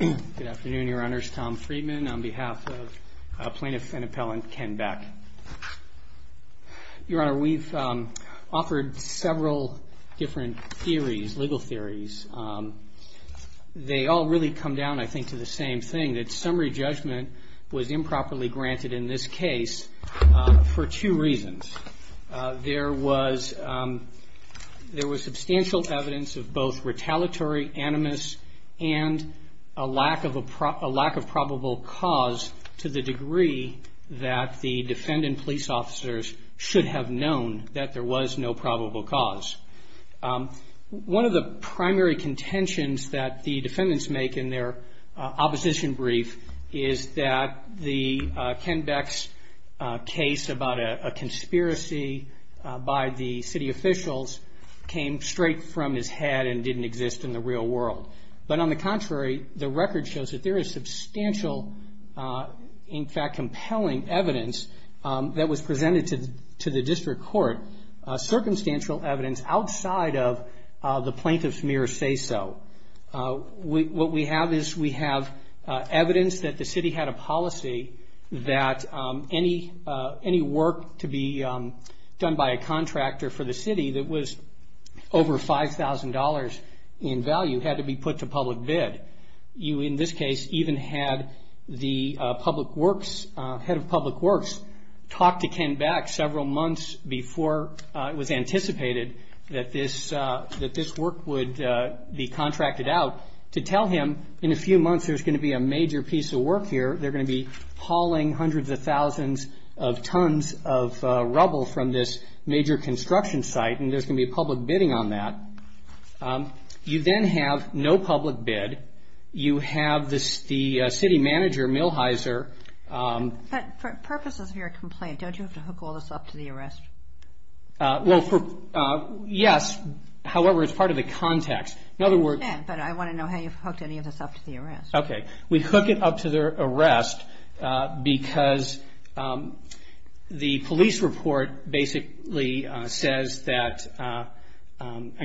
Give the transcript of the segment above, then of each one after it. Good afternoon, Your Honors. Tom Friedman on behalf of Plaintiff and Appellant Ken Beck. Your Honor, we've offered several different theories, legal theories. They all really come down, I think, to the same thing, that summary judgment was improperly granted in this case for two reasons. There was substantial evidence of both retaliatory animus and a lack of probable cause to the degree that the defendant police officers should have known that there was no probable cause. One of the primary contentions that the defendants make in their opposition brief is that the Ken Beck's case about a conspiracy by the city officials came straight from his head and didn't exist in the real world. But on the contrary, the record shows that there is substantial, in fact compelling, evidence that was presented to the district court, circumstantial evidence outside of the plaintiff's mere say-so. What we have is we have evidence that the city had a policy that any work to be done by a contractor for the city that was over $5,000 in value had to be put to public bid. You, in this case, even had the public works, head of public works, talked to Ken Beck several months before it was anticipated that this work would be contracted out to tell him in a few months there's going to be a major piece of work here. They're going to be hauling hundreds of thousands of tons of rubble from this major construction site, and there's going to be a public bidding on that. You then have no public bid. You have the city manager, Milheiser. But for purposes of your complaint, don't you have to hook all this up to the arrest? Well, yes. However, it's part of the context. In other words — Yeah, but I want to know how you've hooked any of this up to the arrest. Okay. We hook it up to the arrest because the police report basically says that — I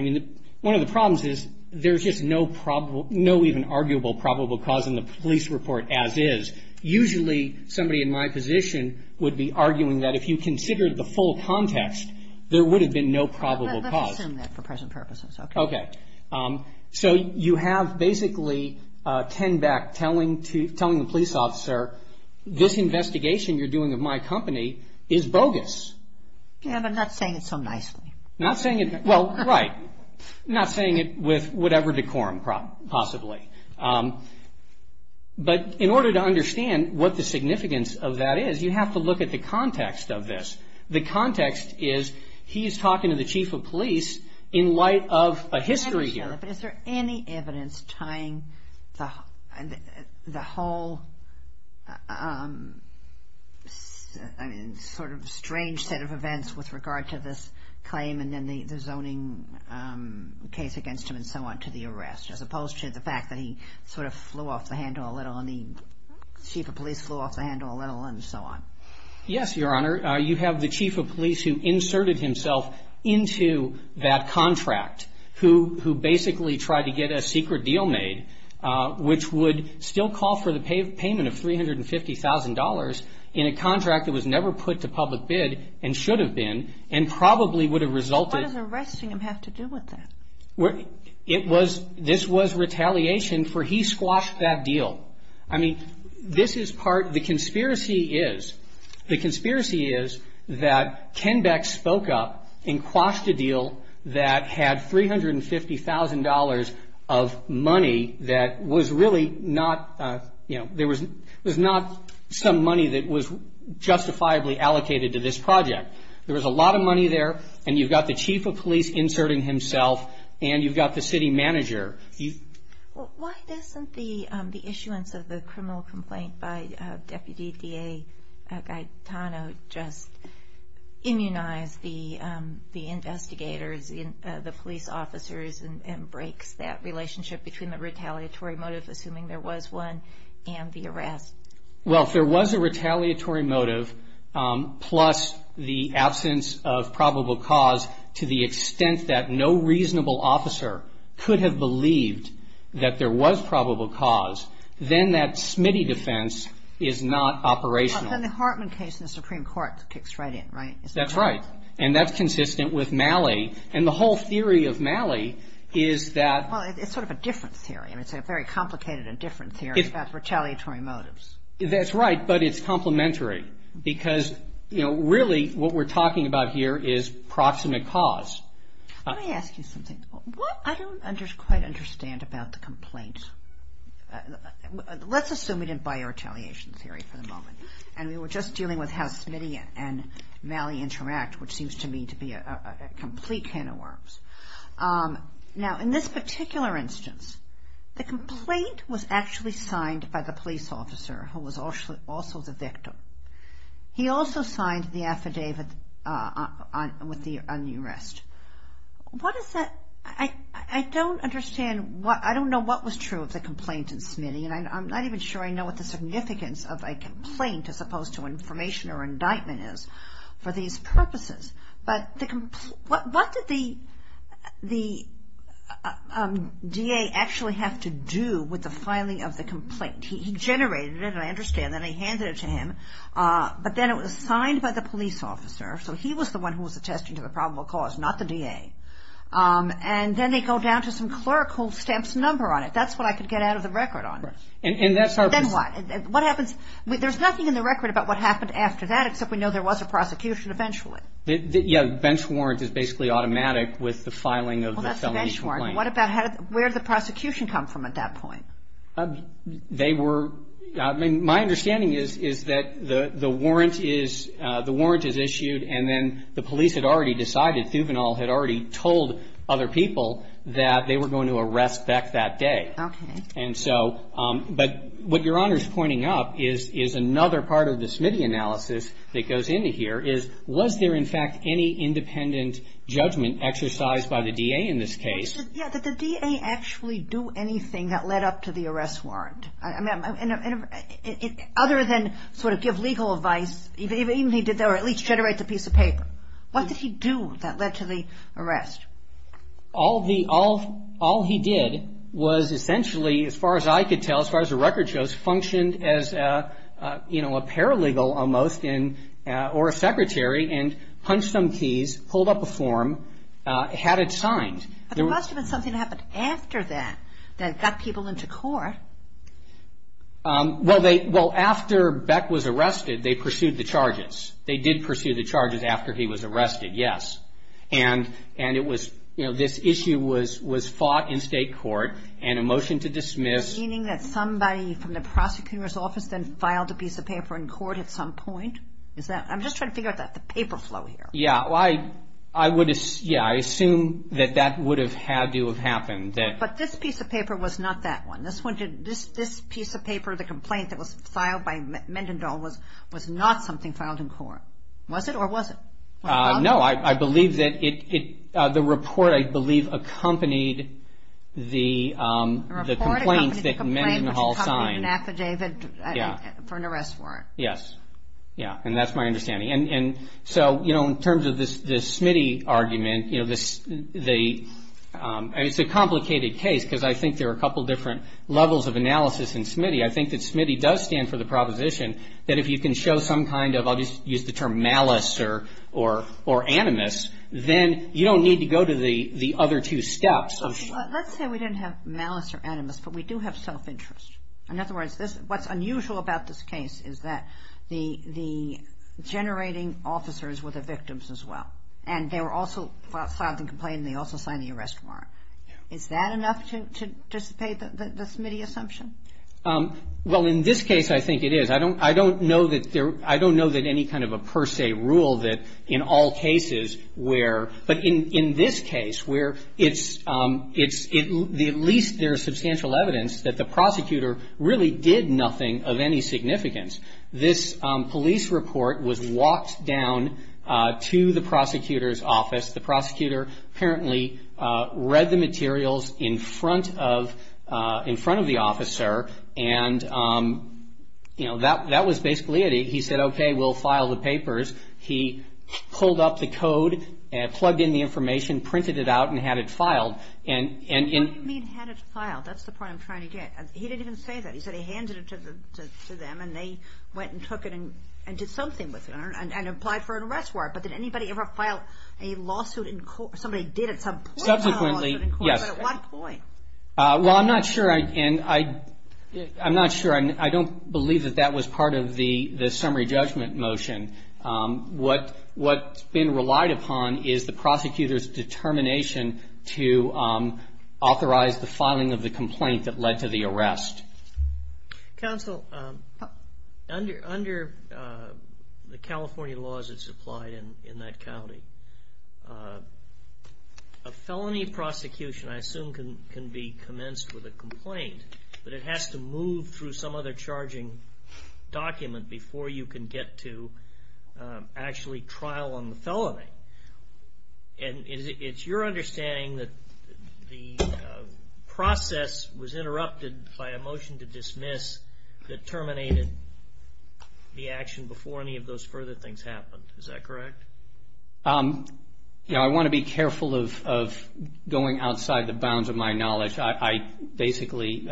mean, one of the problems is there's just no probable — no even arguable probable cause in the police report as is. Usually somebody in my position would be arguing that if you considered the full context, there would have been no probable cause. Let's assume that for present purposes. Okay. So you have basically Ken Beck telling the police officer, this investigation you're doing of my company is bogus. Yeah, but not saying it so nicely. Not saying it — well, right. Not saying it with whatever decorum possibly. But in order to understand what the significance of that is, you have to look at the context of this. The context is he's talking to the chief of police in light of a history here. Is there any evidence tying the whole sort of strange set of events with regard to this claim and then the zoning case against him and so on to the arrest as opposed to the fact that he sort of flew off the handle a little and the chief of police flew off the handle a little and so on? Yes, Your Honor. You have the chief of police who inserted himself into that contract, who basically tried to get a secret deal made, which would still call for the payment of $350,000 in a contract that was never put to public bid and should have been and probably would have resulted — What does arresting him have to do with that? It was — this was retaliation for he squashed that deal. I mean, this is part — the conspiracy is — the conspiracy is that Ken Beck spoke up and quashed a deal that had $350,000 of money that was really not — you know, there was not some money that was justifiably allocated to this project. There was a lot of money there, and you've got the chief of police inserting himself, and you've got the city manager. Why doesn't the issuance of the criminal complaint by Deputy D.A. Gaetano just immunize the investigators, the police officers, and breaks that relationship between the retaliatory motive, assuming there was one, and the arrest? Well, if there was a retaliatory motive plus the absence of probable cause to the extent that no reasonable officer could have believed that there was probable cause, then that Smitty defense is not operational. But then the Hartman case in the Supreme Court kicks right in, right? That's right. And that's consistent with Malley. And the whole theory of Malley is that — Well, it's sort of a different theory. I mean, it's a very complicated and different theory about retaliatory motives. That's right, but it's complementary because, you know, really what we're talking about here is proximate cause. Let me ask you something. I don't quite understand about the complaint. Let's assume we didn't buy your retaliation theory for the moment, and we were just dealing with how Smitty and Malley interact, which seems to me to be a complete can of worms. Now, in this particular instance, the complaint was actually signed by the police officer, who was also the victim. He also signed the affidavit on the arrest. What is that? I don't understand what — I don't know what was true of the complaint in Smitty, and I'm not even sure I know what the significance of a complaint as opposed to information or indictment is for these purposes. But what did the DA actually have to do with the filing of the complaint? He generated it, and I understand that, and he handed it to him, but then it was signed by the police officer, so he was the one who was attesting to the probable cause, not the DA. And then they go down to some clerk who stamps a number on it. That's what I could get out of the record on. Then what? There's nothing in the record about what happened after that, except we know there was a prosecution eventually. Yeah. Bench warrant is basically automatic with the filing of the felony complaint. Well, that's a bench warrant. What about — where did the prosecution come from at that point? They were — I mean, my understanding is that the warrant is issued, and then the police had already decided, Thuvanol had already told other people, that they were going to arrest Beck that day. Okay. And so — but what Your Honor's pointing up is another part of the Smitty analysis that goes into here is, was there, in fact, any independent judgment exercised by the DA in this case? Yeah. Did the DA actually do anything that led up to the arrest warrant? I mean, other than sort of give legal advice, even if he did at least generate the piece of paper, what did he do that led to the arrest? All he did was essentially, as far as I could tell, as far as the record shows, functioned as, you know, a paralegal almost, or a secretary, and punched some keys, pulled up a form, had it signed. But there must have been something that happened after that that got people into court. Well, after Beck was arrested, they pursued the charges. They did pursue the charges after he was arrested, yes. And it was — you know, this issue was fought in state court, and a motion to dismiss. Does that mean that somebody from the prosecutor's office then filed a piece of paper in court at some point? Is that — I'm just trying to figure out the paper flow here. Yeah. Well, I would — yeah, I assume that that would have had to have happened. But this piece of paper was not that one. This piece of paper, the complaint that was filed by Mendendal, was not something filed in court, was it, or was it? No, I believe that it — the report, I believe, accompanied the complaint. The report accompanied the complaint, which accompanied an affidavit for an arrest warrant. Yes. Yeah, and that's my understanding. And so, you know, in terms of the Smitty argument, you know, the — I mean, it's a complicated case because I think there are a couple different levels of analysis in Smitty. I think that Smitty does stand for the proposition that if you can show some kind of — I'll just use the term malice or animus, then you don't need to go to the other two steps. Let's say we didn't have malice or animus, but we do have self-interest. In other words, what's unusual about this case is that the generating officers were the victims as well, and they were also filed the complaint and they also signed the arrest warrant. Is that enough to dissipate the Smitty assumption? Well, in this case, I think it is. I don't know that there — I don't know that any kind of a per se rule that in all cases where — but in this case where it's — at least there's substantial evidence that the prosecutor really did nothing of any significance. This police report was walked down to the prosecutor's office. The prosecutor apparently read the materials in front of the officer and, you know, that was basically it. He said, okay, we'll file the papers. He pulled up the code and plugged in the information, printed it out, and had it filed. What do you mean had it filed? That's the point I'm trying to get. He didn't even say that. He said he handed it to them and they went and took it and did something with it and applied for an arrest warrant. But did anybody ever file a lawsuit in court? Somebody did at some point file a lawsuit in court, but at what point? Well, I'm not sure. And I'm not sure. I don't believe that that was part of the summary judgment motion. What's been relied upon is the prosecutor's determination to authorize the filing of the complaint that led to the arrest. Counsel, under the California laws that's applied in that county, a felony prosecution, I assume, can be commenced with a complaint, but it has to move through some other charging document before you can get to actually trial on the felony. And it's your understanding that the process was interrupted by a motion to dismiss that terminated the action before any of those further things happened, is that correct? You know, I want to be careful of going outside the bounds of my knowledge. I basically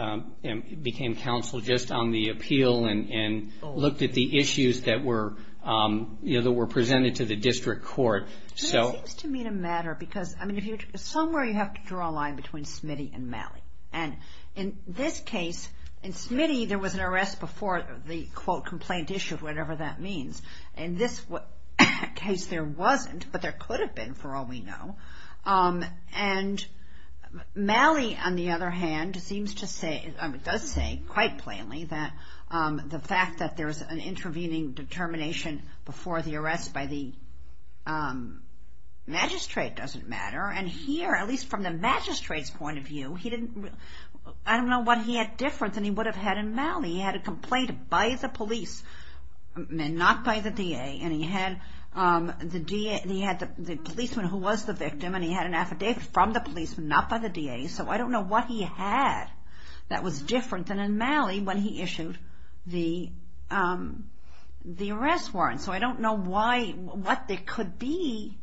became counsel just on the appeal and looked at the issues that were presented to the district court. It seems to me to matter because somewhere you have to draw a line between Smitty and Malley. And in this case, in Smitty there was an arrest before the, quote, complaint issued, whatever that means. In this case there wasn't, but there could have been for all we know. And Malley, on the other hand, seems to say, does say quite plainly that the fact that there's an intervening determination before the arrest by the magistrate doesn't matter. And here, at least from the magistrate's point of view, he didn't, I don't know what he had different than he would have had in Malley. He had a complaint by the police, not by the DA, and he had the DA, he had the policeman who was the victim, and he had an affidavit from the policeman, not by the DA. So I don't know what he had that was different than in Malley when he issued the arrest warrant. So I don't know why, what there could be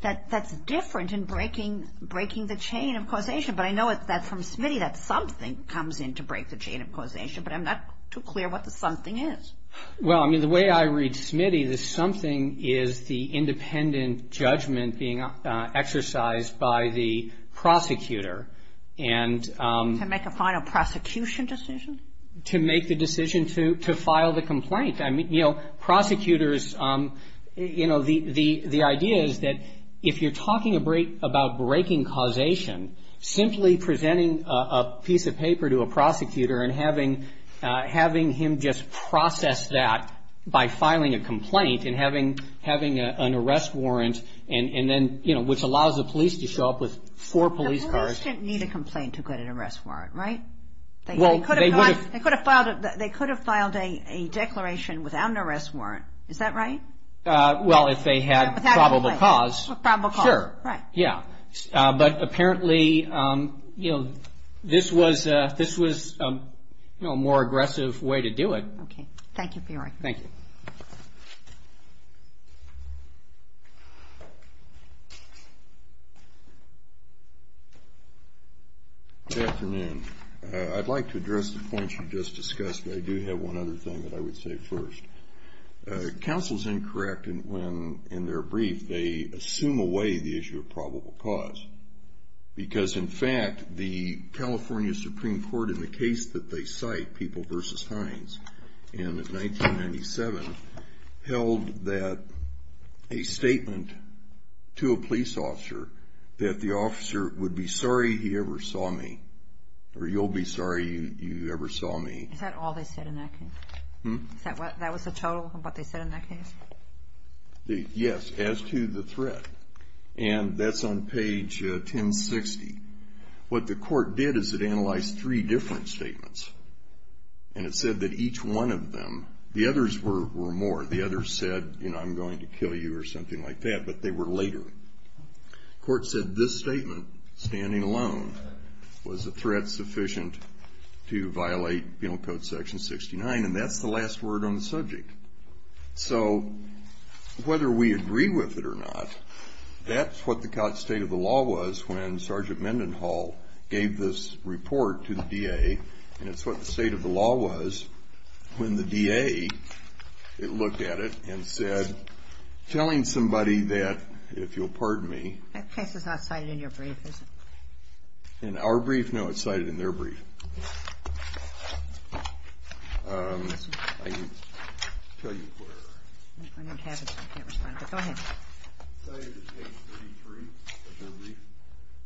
that's different in breaking the chain of causation. But I know that from Smitty that something comes in to break the chain of causation, but I'm not too clear what the something is. Well, I mean, the way I read Smitty, the something is the independent judgment being exercised by the prosecutor and To make a final prosecution decision? To make the decision to file the complaint. I mean, you know, prosecutors, you know, the idea is that if you're talking about breaking causation, simply presenting a piece of paper to a prosecutor and having him just process that by filing a complaint and having an arrest warrant and then, you know, which allows the police to show up with four police cars. The police didn't need a complaint to get an arrest warrant, right? They could have filed a declaration without an arrest warrant. Is that right? Well, if they had probable cause. Probable cause. Sure. Right. Yeah. But apparently, you know, this was, you know, a more aggressive way to do it. Okay. Thank you for your argument. Thank you. Good afternoon. I'd like to address the points you just discussed, but I do have one other thing that I would say first. Counsel's incorrect when, in their brief, they assume away the issue of probable cause because, in fact, the California Supreme Court, in the case that they cite, People v. Hines, in 1997, held that a statement to a police officer that the officer would be sorry he ever saw me or you'll be sorry you ever saw me. Is that all they said in that case? Hmm? That was the total of what they said in that case? Yes, as to the threat, and that's on page 1060. What the court did is it analyzed three different statements, and it said that each one of them, the others were more. The others said, you know, I'm going to kill you or something like that, but they were later. The court said this statement, standing alone, was a threat sufficient to violate Penal Code Section 69, and that's the last word on the subject. So whether we agree with it or not, that's what the state of the law was when Sergeant Mendenhall gave this report to the DA, and it's what the state of the law was when the DA looked at it and said, telling somebody that, if you'll pardon me. That case is not cited in your brief, is it? In our brief? No, it's cited in their brief. I can tell you where. I don't have it, so I can't respond, but go ahead. It's cited in page 33 of their brief,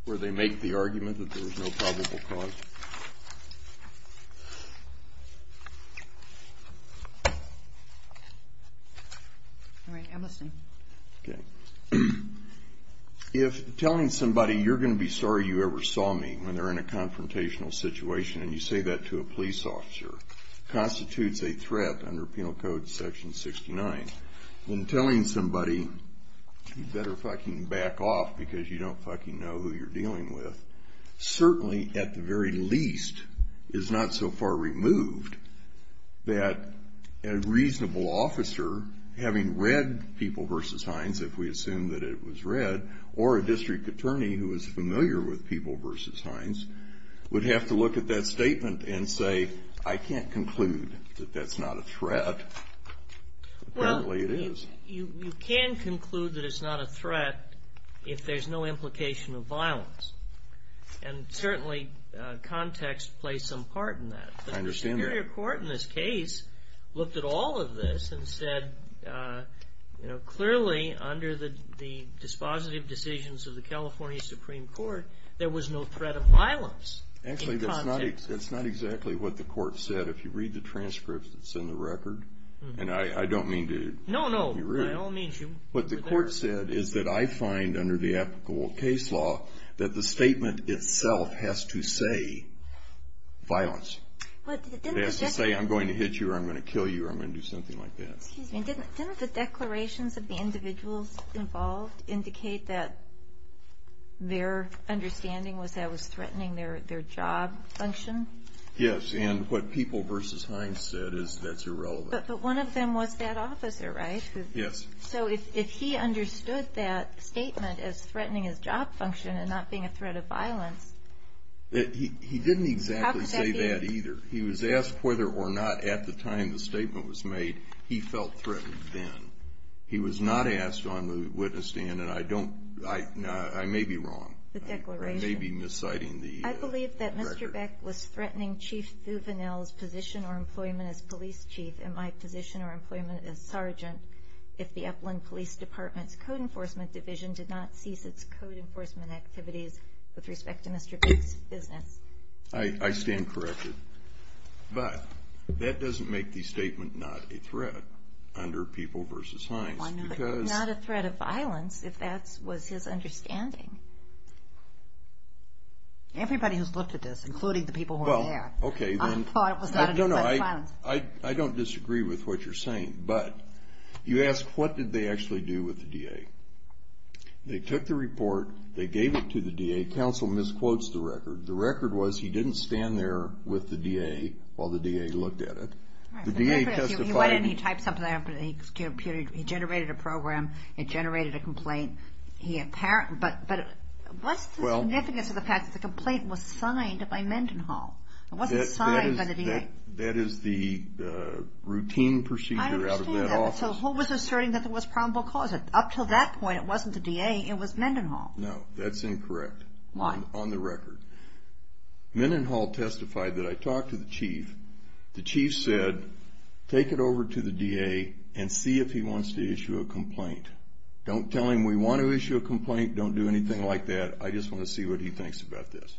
where they make the argument that there was no probable cause. All right, I'm listening. Okay. If telling somebody, you're going to be sorry you ever saw me, when they're in a confrontational situation, and you say that to a police officer, constitutes a threat under Penal Code Section 69, then telling somebody, you better fucking back off because you don't fucking know who you're dealing with, certainly, at the very least, is not so far removed that a reasonable officer, having read People v. Hines, if we assume that it was read, or a district attorney who is familiar with People v. Hines, would have to look at that statement and say, I can't conclude that that's not a threat. Apparently it is. You can conclude that it's not a threat if there's no implication of violence, and certainly context plays some part in that. I understand that. The Superior Court in this case looked at all of this and said, clearly under the dispositive decisions of the California Supreme Court, there was no threat of violence. Actually, that's not exactly what the court said. If you read the transcripts that's in the record, and I don't mean to— No, no. What the court said is that I find, under the applicable case law, that the statement itself has to say violence. It has to say, I'm going to hit you or I'm going to kill you or I'm going to do something like that. Didn't the declarations of the individuals involved indicate that their understanding was that it was threatening their job function? Yes, and what People v. Hines said is that's irrelevant. But one of them was that officer, right? Yes. So if he understood that statement as threatening his job function and not being a threat of violence— He didn't exactly say that either. He was asked whether or not at the time the statement was made he felt threatened then. He was not asked on the witness stand, and I may be wrong. The declaration. I may be misciting the record. I believe that Mr. Beck was threatening Chief Thuvanel's position or employment as police chief and my position or employment as sergeant if the Upland Police Department's Code Enforcement Division did not cease its code enforcement activities with respect to Mr. Beck's business. I stand corrected. But that doesn't make the statement not a threat under People v. Hines because— Not a threat of violence if that was his understanding. Everybody who's looked at this, including the people who are there, thought it was not a threat of violence. I don't disagree with what you're saying, but you ask what did they actually do with the DA. They took the report. They gave it to the DA. Counsel misquotes the record. The record was he didn't stand there with the DA while the DA looked at it. The DA testified— Why didn't he type something up? He generated a program. It generated a complaint. But what's the significance of the fact that the complaint was signed by Mendenhall? It wasn't signed by the DA. That is the routine procedure out of that office. I understand that. So Hull was asserting that there was probable cause. Up until that point, it wasn't the DA. It was Mendenhall. No, that's incorrect. Why? On the record. Mendenhall testified that I talked to the chief. The chief said, take it over to the DA and see if he wants to issue a complaint. Don't tell him we want to issue a complaint. Don't do anything like that. I just want to see what he thinks about this.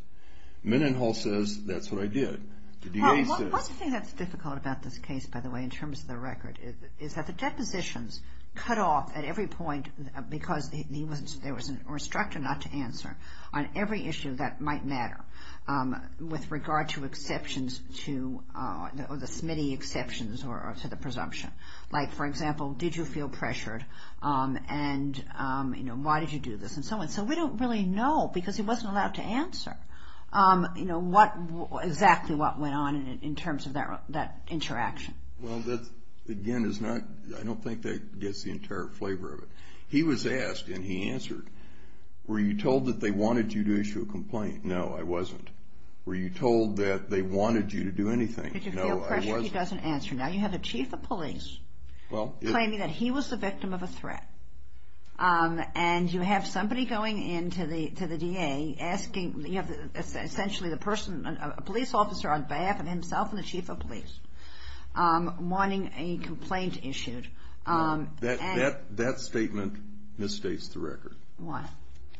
Mendenhall says, that's what I did. The DA says— Well, one thing that's difficult about this case, by the way, in terms of the record, is that the depositions cut off at every point because there was an instructor not to answer on every issue that might matter with regard to exceptions to the SMITE exceptions or to the presumption. Like, for example, did you feel pressured, and why did you do this, and so on. So we don't really know because he wasn't allowed to answer exactly what went on in terms of that interaction. Well, that, again, is not—I don't think that gets the entire flavor of it. He was asked, and he answered, were you told that they wanted you to issue a complaint? No, I wasn't. Were you told that they wanted you to do anything? No, I wasn't. Now you have a chief of police claiming that he was the victim of a threat, and you have somebody going in to the DA asking—you have essentially the person, a police officer on behalf of himself and the chief of police, wanting a complaint issued. That statement misstates the record. Why?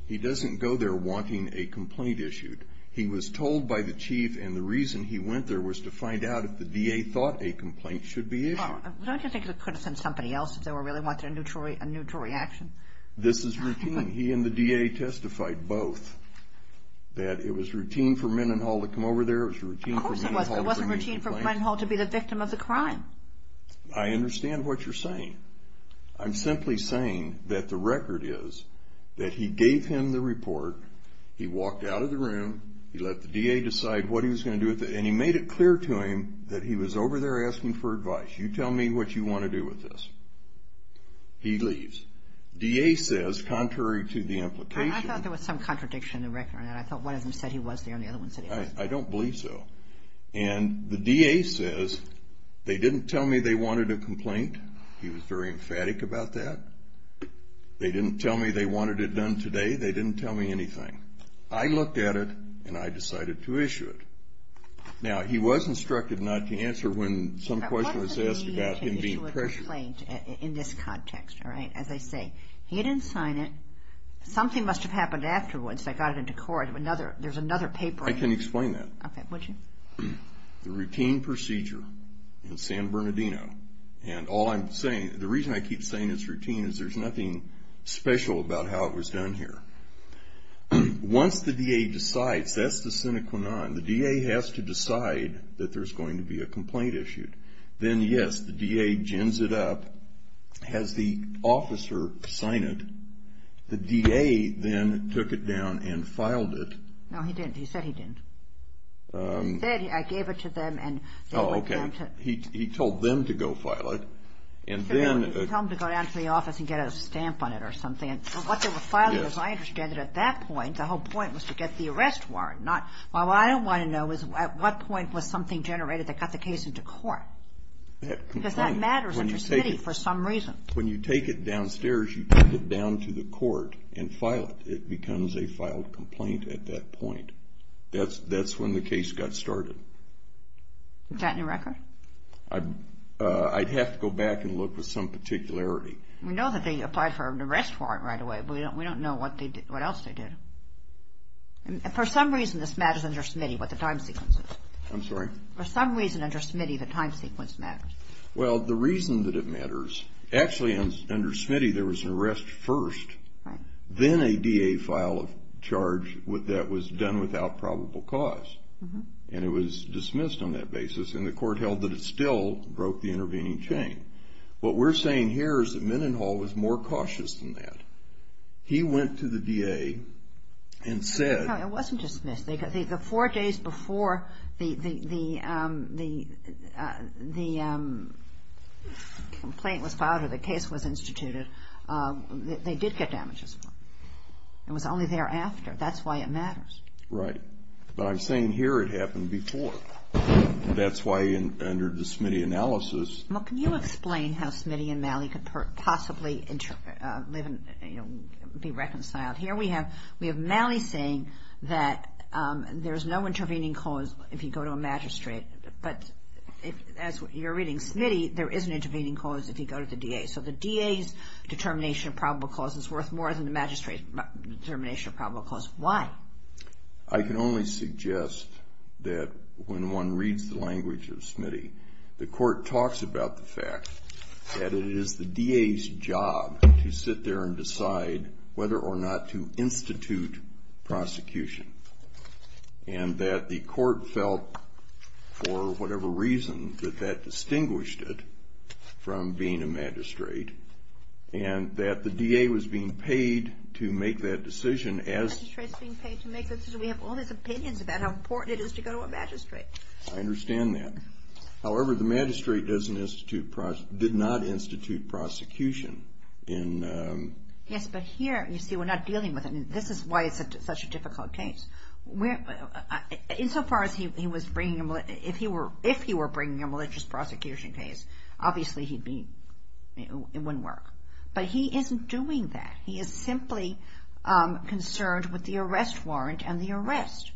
He doesn't go there wanting a complaint issued. He was told by the chief, and the reason he went there was to find out if the DA thought a complaint should be issued. Well, don't you think it could have been somebody else if they were really wanting a neutral reaction? This is routine. He and the DA testified both that it was routine for Mendenhall to come over there. Of course it wasn't. It wasn't routine for Mendenhall to be the victim of the crime. I understand what you're saying. I'm simply saying that the record is that he gave him the report. He walked out of the room. He let the DA decide what he was going to do with it, and he made it clear to him that he was over there asking for advice. You tell me what you want to do with this. He leaves. DA says, contrary to the implication— I thought there was some contradiction in the record. I thought one of them said he was there and the other one said he wasn't. I don't believe so. And the DA says, they didn't tell me they wanted a complaint. He was very emphatic about that. They didn't tell me they wanted it done today. They didn't tell me anything. I looked at it, and I decided to issue it. Now, he was instructed not to answer when some question was asked about him being pressured. What does it mean to issue a complaint in this context, as I say? He didn't sign it. Something must have happened afterwards. They got it into court. There's another paper. I can explain that. Okay, would you? The routine procedure in San Bernardino. And all I'm saying—the reason I keep saying it's routine is there's nothing special about how it was done here. Once the DA decides—that's the sine qua non. The DA has to decide that there's going to be a complaint issued. Then, yes, the DA gins it up, has the officer sign it. The DA then took it down and filed it. No, he didn't. He said he didn't. He said, I gave it to them and— Oh, okay. He told them to go file it, and then— He told them to go down to the office and get a stamp on it or something. What they were filing, as I understand it, at that point, the whole point was to get the arrest warrant, not— Well, what I want to know is at what point was something generated that got the case into court? Because that matters in this city for some reason. When you take it downstairs, you take it down to the court and file it. It becomes a filed complaint at that point. That's when the case got started. Is that in your record? I'd have to go back and look with some particularity. We know that they applied for an arrest warrant right away, but we don't know what else they did. For some reason, this matters under Smitty, what the time sequence is. I'm sorry? For some reason, under Smitty, the time sequence matters. Well, the reason that it matters—actually, under Smitty, there was an arrest first, then a DA file of charge that was done without probable cause, and it was dismissed on that basis, and the court held that it still broke the intervening chain. What we're saying here is that Mendenhall was more cautious than that. He went to the DA and said— No, it wasn't dismissed. The four days before the complaint was filed or the case was instituted, they did get damages. It was only thereafter. That's why it matters. Right. But I'm saying here it happened before. That's why under the Smitty analysis— Well, can you explain how Smitty and Malley could possibly be reconciled? Here we have Malley saying that there's no intervening cause if you go to a magistrate, but as you're reading Smitty, there is an intervening cause if you go to the DA. So the DA's determination of probable cause is worth more than the magistrate's determination of probable cause. Why? I can only suggest that when one reads the language of Smitty, the court talks about the fact that it is the DA's job to sit there and decide whether or not to institute prosecution and that the court felt, for whatever reason, that that distinguished it from being a magistrate and that the DA was being paid to make that decision as— The magistrate's being paid to make the decision. We have all these opinions about how important it is to go to a magistrate. I understand that. However, the magistrate did not institute prosecution in— Yes, but here, you see, we're not dealing with it. This is why it's such a difficult case. Insofar as he was bringing a—if he were bringing a malicious prosecution case, obviously he'd be—it wouldn't work. But he isn't doing that. He is simply concerned with the arrest warrant and the arrest.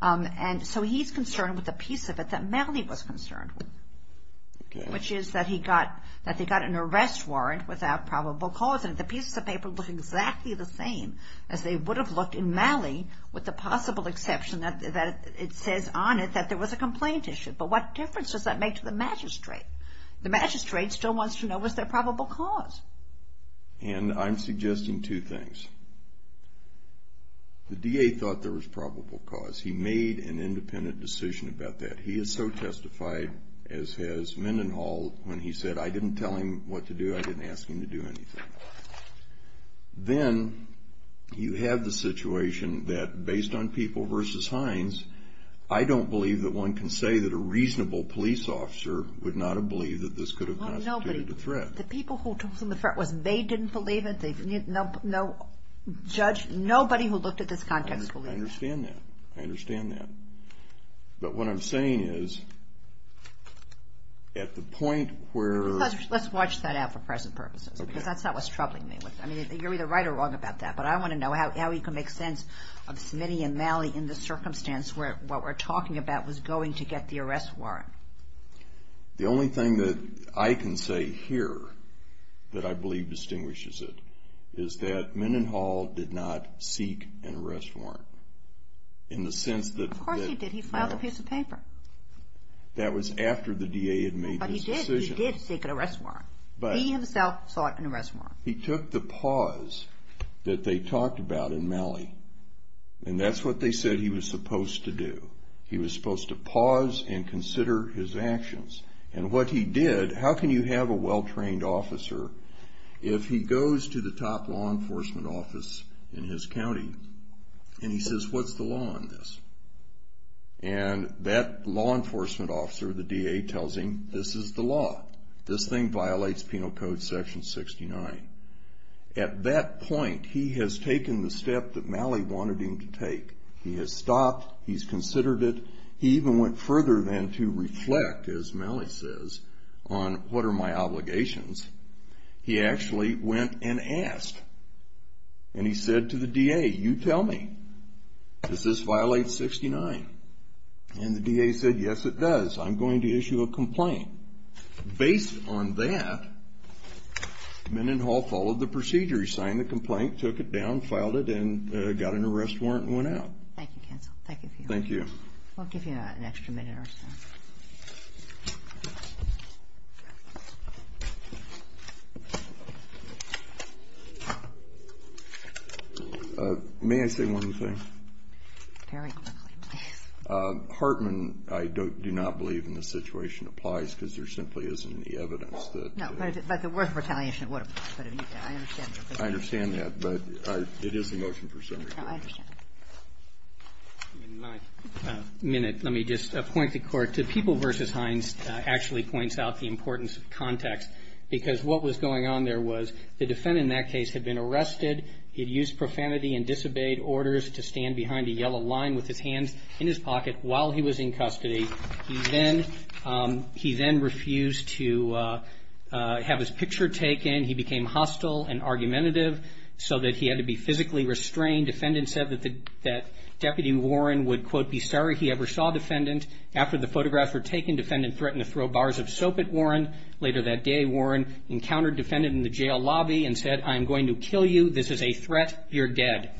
And so he's concerned with the piece of it that Malley was concerned with, which is that he got—that they got an arrest warrant without probable cause, and the pieces of paper look exactly the same as they would have looked in Malley, with the possible exception that it says on it that there was a complaint issue. But what difference does that make to the magistrate? The magistrate still wants to know, was there probable cause? And I'm suggesting two things. The DA thought there was probable cause. He made an independent decision about that. He is so testified, as has Mendenhall, when he said, I didn't tell him what to do, I didn't ask him to do anything. Then you have the situation that, based on People v. Hines, I don't believe that one can say that a reasonable police officer would not have believed that this could have constituted a threat. The people who told him the threat was they didn't believe it, no judge, nobody who looked at this context believed it. I understand that. I understand that. But what I'm saying is, at the point where— Let's watch that out for present purposes, because that's not what's troubling me. I mean, you're either right or wrong about that, but I want to know how you can make sense of Smitty and Malley in the circumstance where what we're talking about was going to get the arrest warrant. The only thing that I can say here that I believe distinguishes it is that Mendenhall did not seek an arrest warrant in the sense that— Of course he did. He filed a piece of paper. That was after the DA had made his decision. But he did. He did seek an arrest warrant. He himself sought an arrest warrant. He took the pause that they talked about in Malley, and that's what they said he was supposed to do. He was supposed to pause and consider his actions. And what he did—how can you have a well-trained officer if he goes to the top law enforcement office in his county, and he says, what's the law on this? And that law enforcement officer, the DA, tells him, this is the law. This thing violates Penal Code Section 69. At that point, he has taken the step that Malley wanted him to take. He has stopped. He's considered it. He even went further than to reflect, as Malley says, on what are my obligations. He actually went and asked. And he said to the DA, you tell me. Does this violate 69? And the DA said, yes, it does. I'm going to issue a complaint. Based on that, Mendenhall followed the procedure. He signed the complaint, took it down, filed it, and got an arrest warrant and went out. Thank you, counsel. Thank you. Thank you. We'll give you an extra minute or so. May I say one thing? Very quickly, please. Hartman, I do not believe in the situation applies because there simply isn't any evidence that— I understand that, but it is a motion for summary. I understand. In my minute, let me just point the Court to People v. Hines actually points out the importance of context, because what was going on there was the defendant in that case had been arrested. He had used profanity and disobeyed orders to stand behind a yellow line with his hands in his pocket while he was in custody. He then refused to have his picture taken. Then he became hostile and argumentative so that he had to be physically restrained. Defendant said that Deputy Warren would, quote, be sorry he ever saw defendant. After the photographs were taken, defendant threatened to throw bars of soap at Warren. Later that day, Warren encountered defendant in the jail lobby and said, I'm going to kill you. This is a threat. You're dead.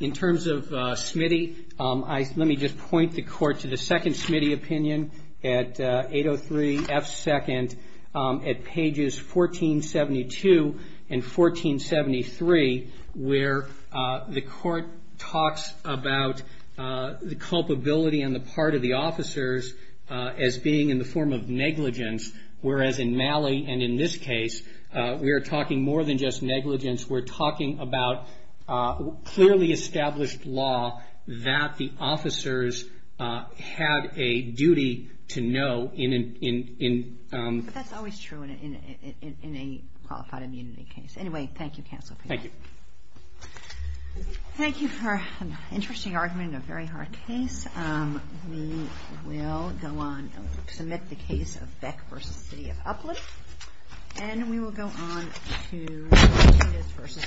In terms of Smitty, let me just point the Court to the second Smitty opinion at 803 F. 2nd at pages 1472 and 1473, where the Court talks about the culpability and the part of the officers as being in the form of negligence, whereas in Malley and in this case, we are talking more than just negligence. We're talking about clearly established law that the officers had a duty to know in an— But that's always true in a qualified immunity case. Anyway, thank you, Counsel. Thank you. Thank you for an interesting argument in a very hard case. We will go on and submit the case of Beck v. City of Upland, and we will go on to Davis v. Astro.